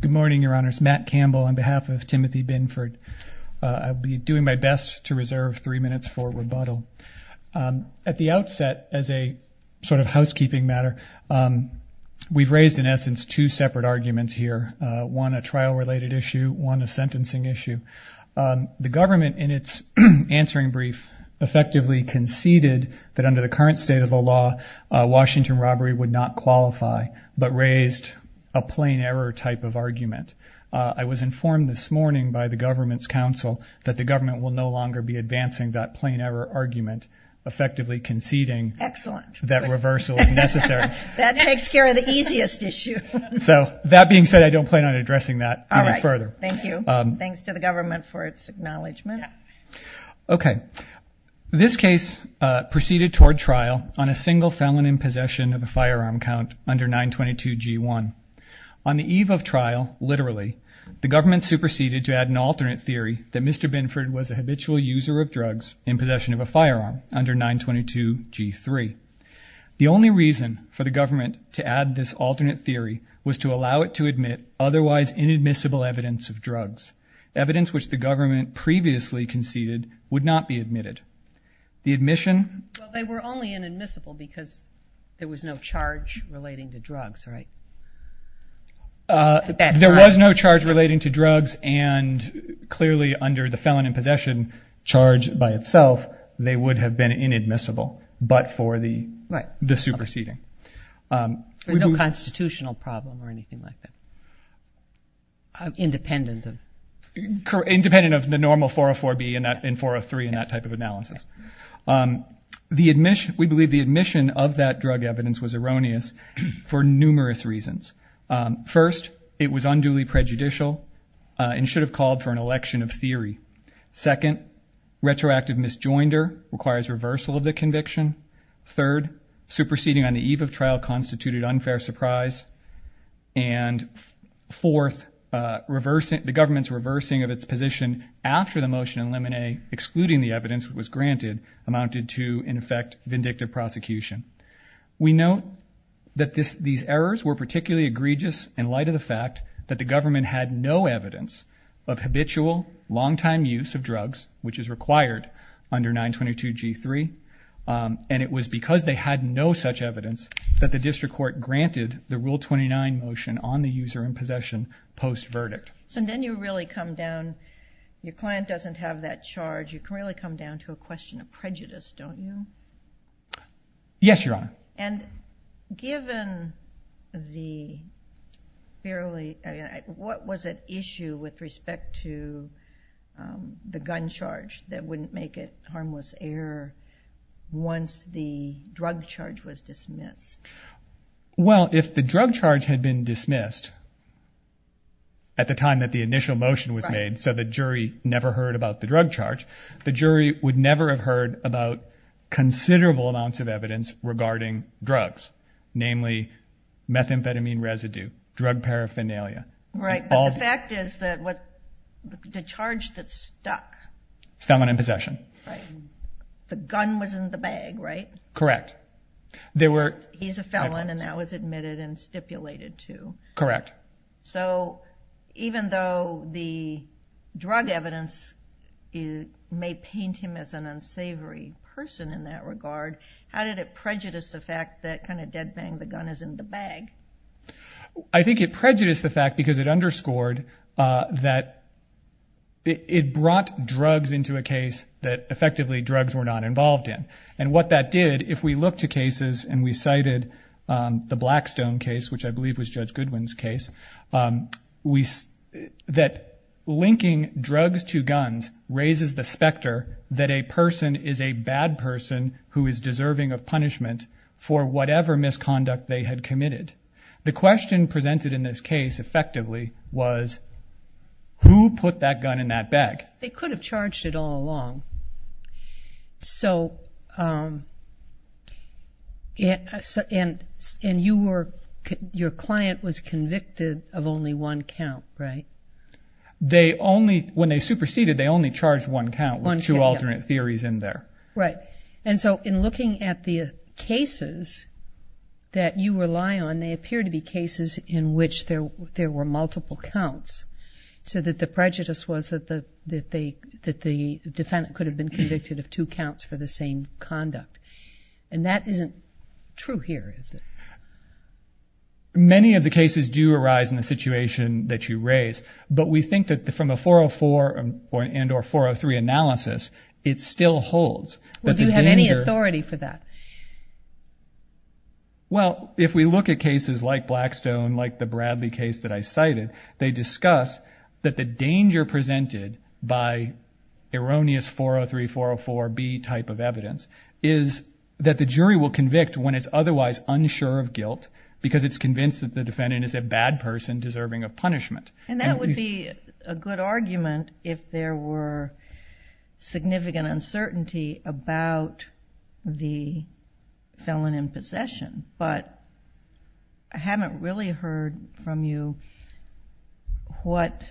Good morning, your honors. Matt Campbell on behalf of Timothy Binford. I'll be doing my best to reserve three minutes for rebuttal. At the outset, as a sort of housekeeping matter, we've raised in essence two separate arguments here. One a trial-related issue, one a sentencing issue. The government in its answering brief effectively conceded that under the current state of the law, Washington robbery would not qualify. But raised a plain error type of argument. I was informed this morning by the government's counsel that the government will no longer be advancing that plain error argument, effectively conceding that reversal is necessary. That takes care of the easiest issue. So that being said, I don't plan on addressing that any further. Thank you. Thanks to the government for its acknowledgement. Okay. This case proceeded toward trial on a single felon in possession of a firearm count under 922 G1. On the eve of trial, literally, the government superseded to add an alternate theory that Mr. Binford was a habitual user of drugs in possession of a firearm under 922 G3. The only reason for the government to add this alternate theory was to allow it to admit otherwise inadmissible evidence of drugs. Evidence which the government previously conceded would not be admitted. The admission... Well, they were only inadmissible because there was no charge relating to drugs, right? There was no charge relating to drugs, and clearly under the felon in possession charge by itself, they would have been inadmissible, but for the superseding. There's no constitutional problem or anything like that, independent of... Independent of the normal 404B and 403 and that type of analysis. The admission... We believe the admission of that drug evidence was erroneous for numerous reasons. First, it was unduly prejudicial and should have called for an election of theory. Second, retroactive misjoinder requires reversal of the conviction. Third, superseding on the eve of trial constituted unfair surprise. And fourth, the government's reversing of its position after the motion in Lemonet, excluding the evidence that was granted, amounted to, in effect, vindictive prosecution. We note that these errors were particularly egregious in light of the fact that the government had no evidence of habitual, long-time use of drugs, which is required under 922 G3. And it was because they had no such evidence that the district court granted the Rule 29 motion on the user in possession post-verdict. So then you really come down... Your client doesn't have that charge. You can really come down to a question of prejudice, don't you? Yes, Your Honor. And given the fairly... What was at issue with respect to the gun charge that wouldn't make it harmless error once the drug charge was dismissed? Well, if the drug charge had been dismissed at the time that the initial motion was made so the jury never heard about the drug charge, the jury would never have heard about considerable amounts of evidence regarding drugs, namely methamphetamine residue, drug paraphernalia. Right, but the fact is that the charge that stuck... Felon in possession. Right. The gun was in the bag, right? Correct. He's a felon and that was admitted and stipulated to. Correct. So even though the drug evidence may paint him as an unsavory person in that regard, how did it prejudice the fact that kind of dead bang the gun is in the bag? I think it prejudiced the fact because it underscored that it brought drugs into a case that effectively drugs were not involved in. And what that did, if we look to cases and we cited the Blackstone case, which I believe was Judge Goodwin's case, that linking drugs to guns raises the specter that a person is a bad person who is deserving of punishment for whatever misconduct they had committed. The question presented in this case effectively was who put that gun in that bag? They could have charged it all along. And your client was convicted of only one count, right? When they superseded, they only charged one count with two alternate theories in there. Right. And so in looking at the cases that you rely on, they appear to be cases in which there were multiple counts so that the prejudice was that the defendant could have been convicted of two counts for the same conduct. And that isn't true here, is it? Many of the cases do arise in the situation that you raise, but we think that from a 404 and or 403 analysis, it still holds. Do you have any authority for that? Well, if we look at cases like Blackstone, like the Bradley case that I cited, they discuss that the danger presented by erroneous 403, 404B type of evidence is that the jury will convict when it's otherwise unsure of guilt because it's convinced that the defendant is a bad person deserving of punishment. And that would be a good argument if there were significant uncertainty about the felon in possession. But I haven't really heard from you what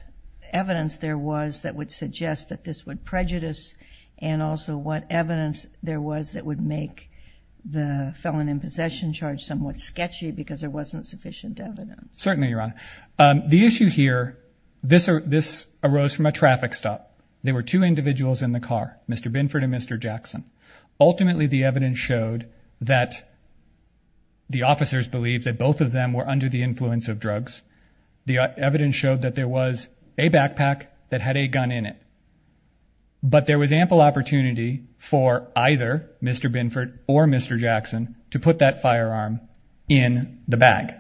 evidence there was that would suggest that this would prejudice and also what evidence there was that would make the felon in possession charge somewhat sketchy because there wasn't sufficient evidence. Certainly, Your Honor. The issue here, this arose from a traffic stop. There were two individuals in the car, Mr. Binford and Mr. Jackson. Ultimately, the evidence showed that the officers believed that both of them were under the influence of drugs. The evidence showed that there was a backpack that had a gun in it. But there was ample opportunity for either Mr. Binford or Mr. Jackson to put that firearm in the bag.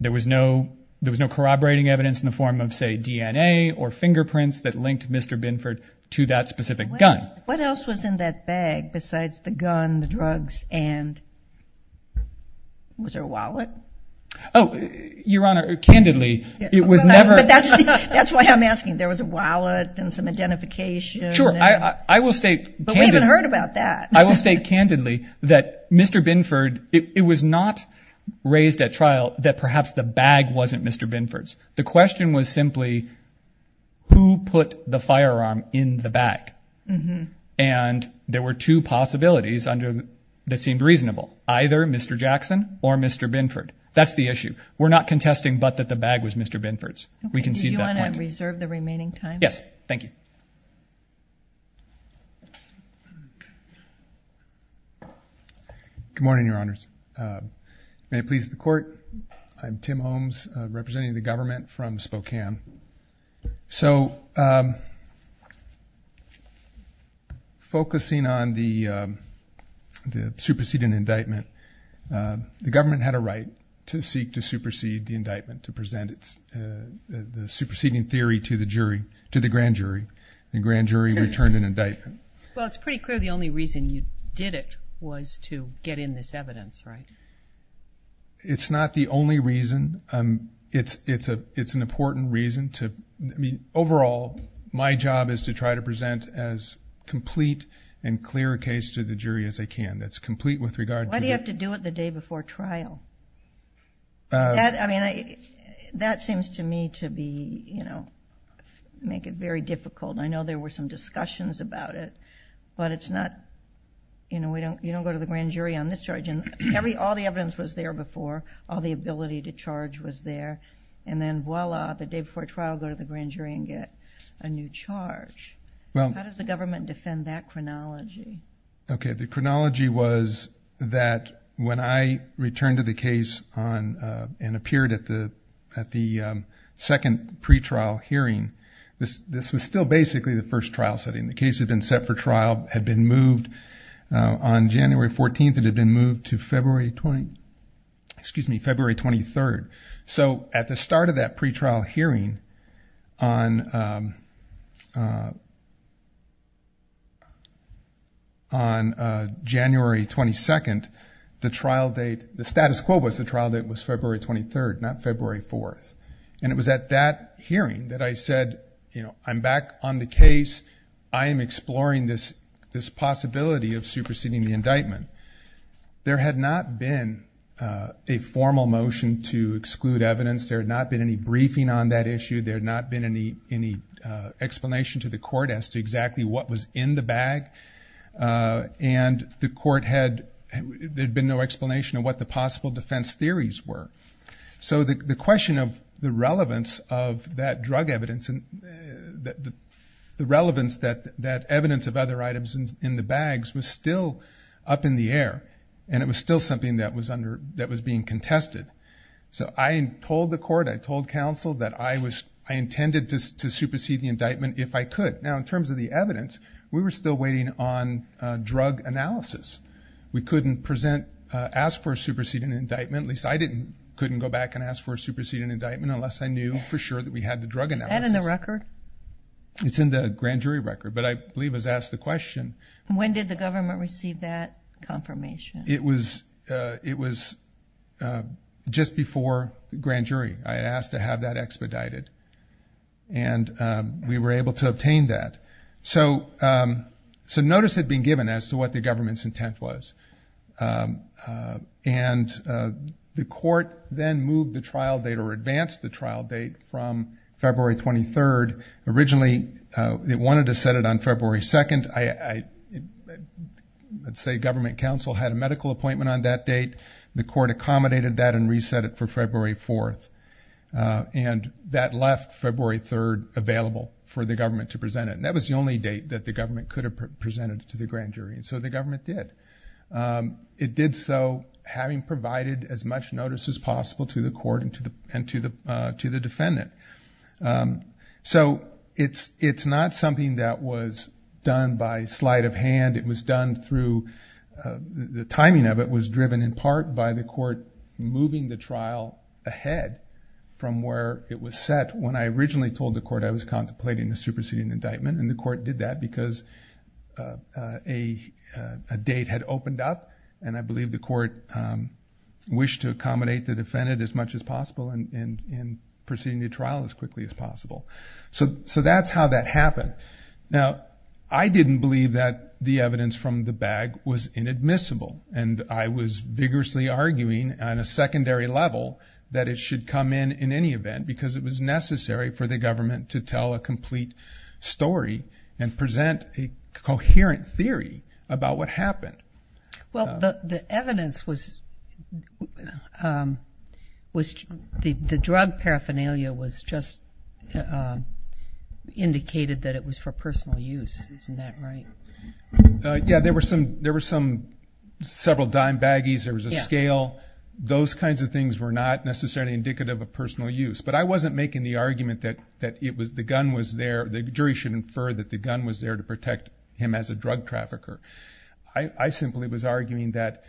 There was no corroborating evidence in the form of, say, DNA or fingerprints that linked Mr. Binford to that specific gun. What else was in that bag besides the gun, the drugs, and was there a wallet? Oh, Your Honor, candidly, it was never. But that's why I'm asking. There was a wallet and some identification. Sure. I will state. But we haven't heard about that. I will state candidly that Mr. Binford, it was not raised at trial that perhaps the bag wasn't Mr. Binford's. The question was simply who put the firearm in the bag. And there were two possibilities that seemed reasonable, either Mr. Jackson or Mr. Binford. That's the issue. We're not contesting but that the bag was Mr. Binford's. We concede that point. Okay. Do you want to reserve the remaining time? Yes. Thank you. Good morning, Your Honors. May it please the Court, I'm Tim Holmes representing the government from Spokane. So focusing on the superseding indictment, the government had a right to seek to supersede the indictment, to present the superseding theory to the jury, to the grand jury. The grand jury returned an indictment. Well, it's pretty clear the only reason you did it was to get in this evidence, right? It's not the only reason. It's an important reason to... I mean, overall, my job is to try to present as complete and clear a case to the jury as I can. That's complete with regard to... Why do you have to do it the day before trial? I mean, that seems to me to be, you know, make it very difficult. I know there were some discussions about it, but it's not... You know, you don't go to the grand jury on this charge. All the evidence was there before, all the ability to charge was there, and then voila, the day before trial, go to the grand jury and get a new charge. How does the government defend that chronology? Okay, the chronology was that when I returned to the case and appeared at the second pretrial hearing, this was still basically the first trial setting. The case had been set for trial, had been moved. On January 14th, it had been moved to February 23rd. So at the start of that pretrial hearing, on January 22nd, the trial date... The status quo was the trial date was February 23rd, not February 4th. And it was at that hearing that I said, you know, I'm back on the case. I am exploring this possibility of superseding the indictment. There had not been a formal motion to exclude evidence. There had not been any briefing on that issue. There had not been any explanation to the court as to exactly what was in the bag. And the court had... There had been no explanation of what the possible defense theories were. So the question of the relevance of that drug evidence... The relevance that evidence of other items in the bags was still up in the air. And it was still something that was being contested. So I told the court, I told counsel that I intended to supersede the indictment if I could. Now in terms of the evidence, we were still waiting on drug analysis. We couldn't present... ask for a superseding indictment. At least I couldn't go back and ask for a superseding indictment unless I knew for sure that we had the drug analysis. Is that in the record? It's in the grand jury record. But I believe it was asked the question... When did the government receive that confirmation? It was just before grand jury. I asked to have that expedited. And we were able to obtain that. So notice had been given as to what the government's intent was. And the court then moved the trial date or advanced the trial date from February 23rd. Originally it wanted to set it on February 2nd. I'd say government counsel had a medical appointment on that date. The court accommodated that and reset it for February 4th. And that left February 3rd available for the government to present it. And that was the only date that the government could have presented to the grand jury. So the government did. It did so having provided as much notice as possible to the court and to the defendant. So it's not something that was done by sleight of hand. It was done through... the timing of it was driven in part by the court moving the trial ahead from where it was set. When I originally told the court I was contemplating a superseding indictment, and the court did that because a date had opened up. And I believe the court wished to accommodate the defendant as much as possible in proceeding the trial as quickly as possible. So that's how that happened. Now, I didn't believe that the evidence from the bag was inadmissible. And I was vigorously arguing on a secondary level that it should come in in any event because it was necessary for the government to tell a complete story and present a coherent theory about what happened. Well, the evidence was the drug paraphernalia was just indicated that it was for personal use. Isn't that right? Yeah, there were several dime baggies. There was a scale. Those kinds of things were not necessarily indicative of personal use. But I wasn't making the argument that the jury should infer that the gun was there to protect him as a drug trafficker. I simply was arguing that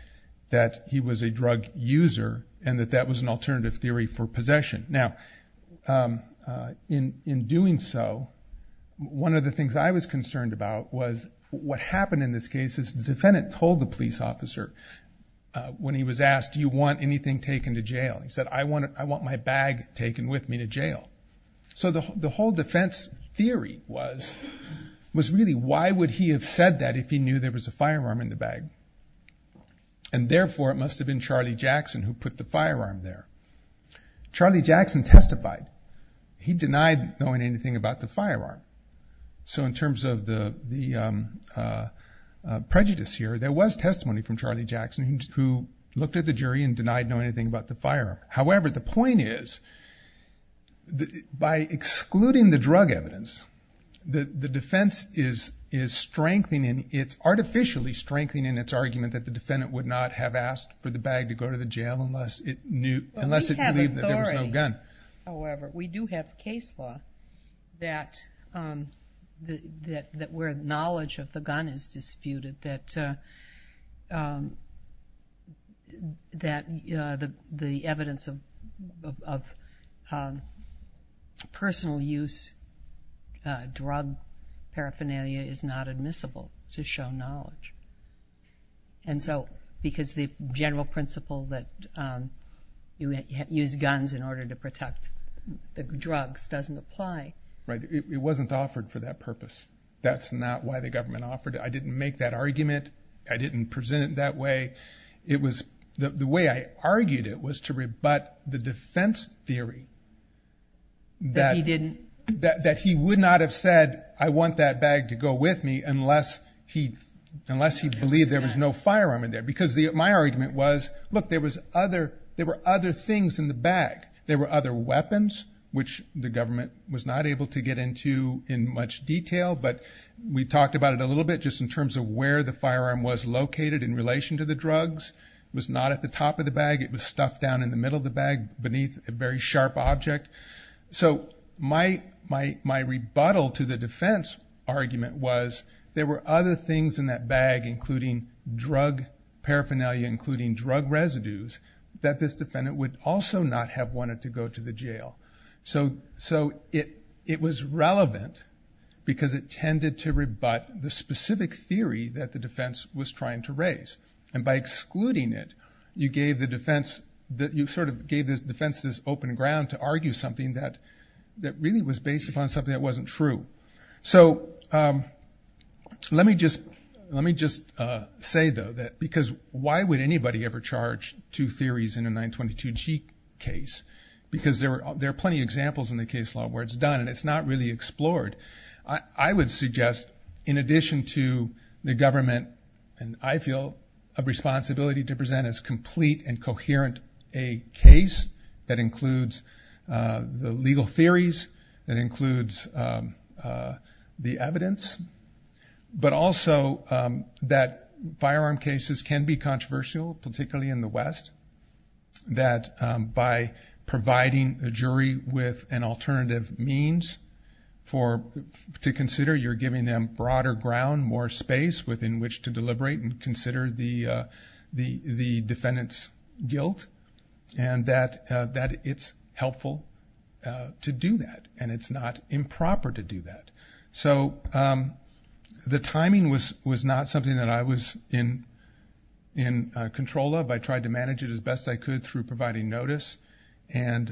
he was a drug user and that that was an alternative theory for possession. Now, in doing so, one of the things I was concerned about was what happened in this case because the defendant told the police officer when he was asked, do you want anything taken to jail? He said, I want my bag taken with me to jail. So the whole defense theory was really, why would he have said that if he knew there was a firearm in the bag? And therefore, it must have been Charlie Jackson who put the firearm there. Charlie Jackson testified. He denied knowing anything about the firearm. So in terms of the prejudice here, there was testimony from Charlie Jackson who looked at the jury and denied knowing anything about the firearm. However, the point is, by excluding the drug evidence, the defense is artificially strengthening its argument that the defendant would not have asked for the bag to go to the jail unless it knew that there was no gun. However, we do have case law that where knowledge of the gun is disputed, that the evidence of personal use drug paraphernalia is not admissible to show knowledge. And so because the general principle that you use guns in order to protect the drugs doesn't apply. It wasn't offered for that purpose. That's not why the government offered it. I didn't make that argument. I didn't present it that way. The way I argued it was to rebut the defense theory that he would not have said, I want that bag to go with me unless he believed there was no firearm in there. Because my argument was, look, there were other things in the bag. There were other weapons, which the government was not able to get into in much detail. But we talked about it a little bit just in terms of where the firearm was located in relation to the drugs. It was not at the top of the bag. It was stuffed down in the middle of the bag beneath a very sharp object. So my rebuttal to the defense argument was there were other things in that bag, including drug paraphernalia, including drug residues, that this defendant would also not have wanted to go to the jail. So it was relevant because it tended to rebut the specific theory that the defense was trying to raise. And by excluding it, you gave the defense this open ground to argue something that really was based upon something that wasn't true. So let me just say, though, that because why would anybody ever charge two theories in a 922G case? Because there are plenty of examples in the case law where it's done and it's not really explored. I would suggest, in addition to the government, and I feel a responsibility to present as complete and coherent, a case that includes the legal theories, that includes the evidence, but also that firearm cases can be controversial, particularly in the West, that by providing a jury with an alternative means to consider, you're giving them broader ground, more space within which to deliberate and consider the defendant's guilt, and that it's helpful to do that and it's not improper to do that. So the timing was not something that I was in control of. I tried to manage it as best I could through providing notice. And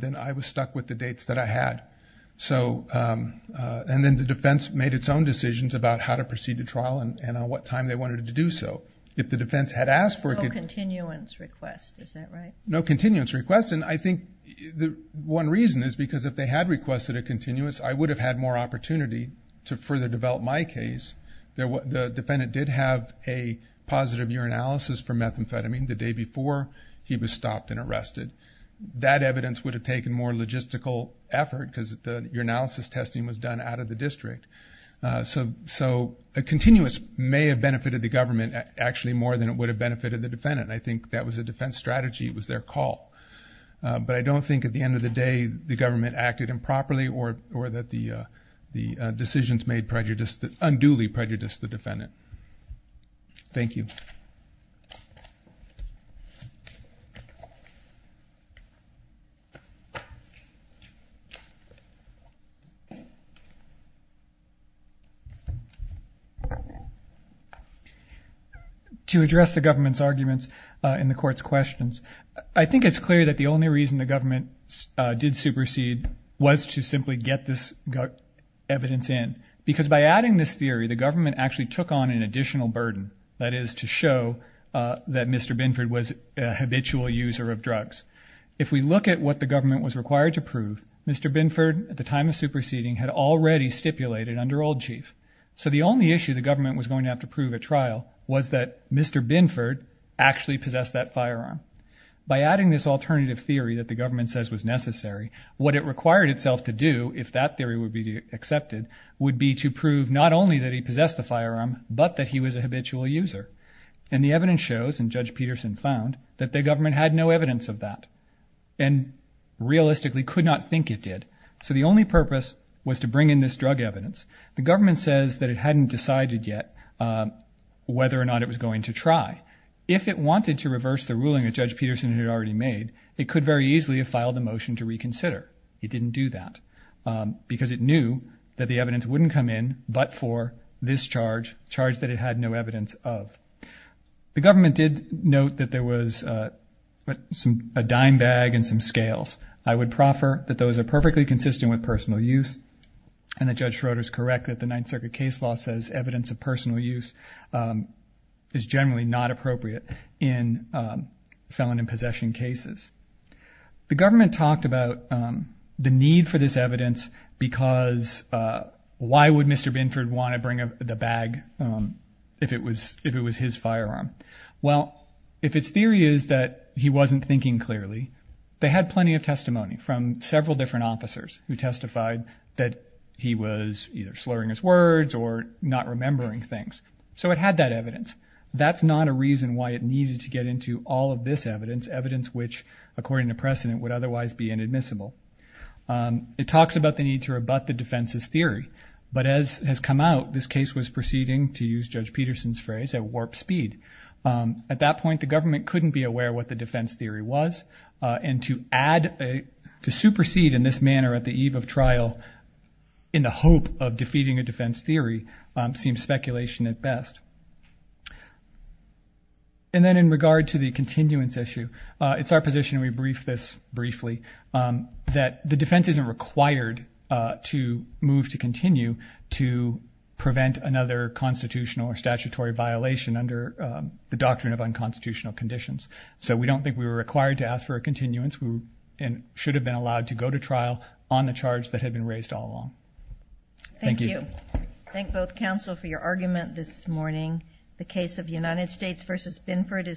then I was stuck with the dates that I had. And then the defense made its own decisions about how to proceed to trial and on what time they wanted to do so. If the defense had asked for it... No continuance request, is that right? No continuance request. And I think the one reason is because if they had requested a continuance, I would have had more opportunity to further develop my case. The defendant did have a positive urinalysis for methamphetamine the day before he was stopped and arrested. That evidence would have taken more logistical effort because the urinalysis testing was done out of the district. So a continuance may have benefited the government actually more than it would have benefited the defendant. I think that was a defense strategy. It was their call. But I don't think at the end of the day the government acted improperly or that the decisions made unduly prejudiced the defendant. Thank you. To address the government's arguments and the court's questions, I think it's clear that the only reason the government did supersede was to simply get this evidence in. Because by adding this theory, the government actually took on an additional burden, that is to show that Mr. Binford was a habitual user of drugs. If we look at what the government was required to prove, Mr. Binford at the time of superseding had already stipulated under old chief. So the only issue the government was going to have to prove at trial was that Mr. Binford actually possessed that firearm. By adding this alternative theory that the government says was necessary, what it required itself to do, if that theory would be accepted, would be to prove not only that he possessed the firearm, but that he was a habitual user. And the evidence shows, and Judge Peterson found, that the government had no evidence of that and realistically could not think it did. So the only purpose was to bring in this drug evidence. The government says that it hadn't decided yet whether or not it was going to try. If it wanted to reverse the ruling that Judge Peterson had already made, it could very easily have filed a motion to reconsider. It didn't do that because it knew that the evidence wouldn't come in but for this charge, a charge that it had no evidence of. The government did note that there was a dime bag and some scales. I would proffer that those are perfectly consistent with personal use and that Judge Schroeder is correct that the Ninth Circuit case law says evidence of personal use is generally not appropriate in felon in possession cases. The government talked about the need for this evidence because why would Mr. Binford want to bring the bag if it was his firearm? Well, if its theory is that he wasn't thinking clearly, they had plenty of testimony from several different officers who testified that he was either slurring his words or not remembering things. So it had that evidence. That's not a reason why it needed to get into all of this evidence, evidence which according to precedent would otherwise be inadmissible. It talks about the need to rebut the defense's theory. But as has come out, this case was proceeding, to use Judge Peterson's phrase, at warp speed. At that point, the government couldn't be aware what the defense theory was. And to add, to supersede in this manner at the eve of trial in the hope of defeating a defense theory seems speculation at best. And then in regard to the continuance issue, it's our position, and we briefed this briefly, that the defense isn't required to move to continue to prevent another constitutional or statutory violation under the doctrine of unconstitutional conditions. So we don't think we were required to ask for a continuance. We should have been allowed to go to trial on the charge that had been raised all along. Thank you. Thank you. Thank both counsel for your argument this morning. The case of United States v. Binford is adjourned.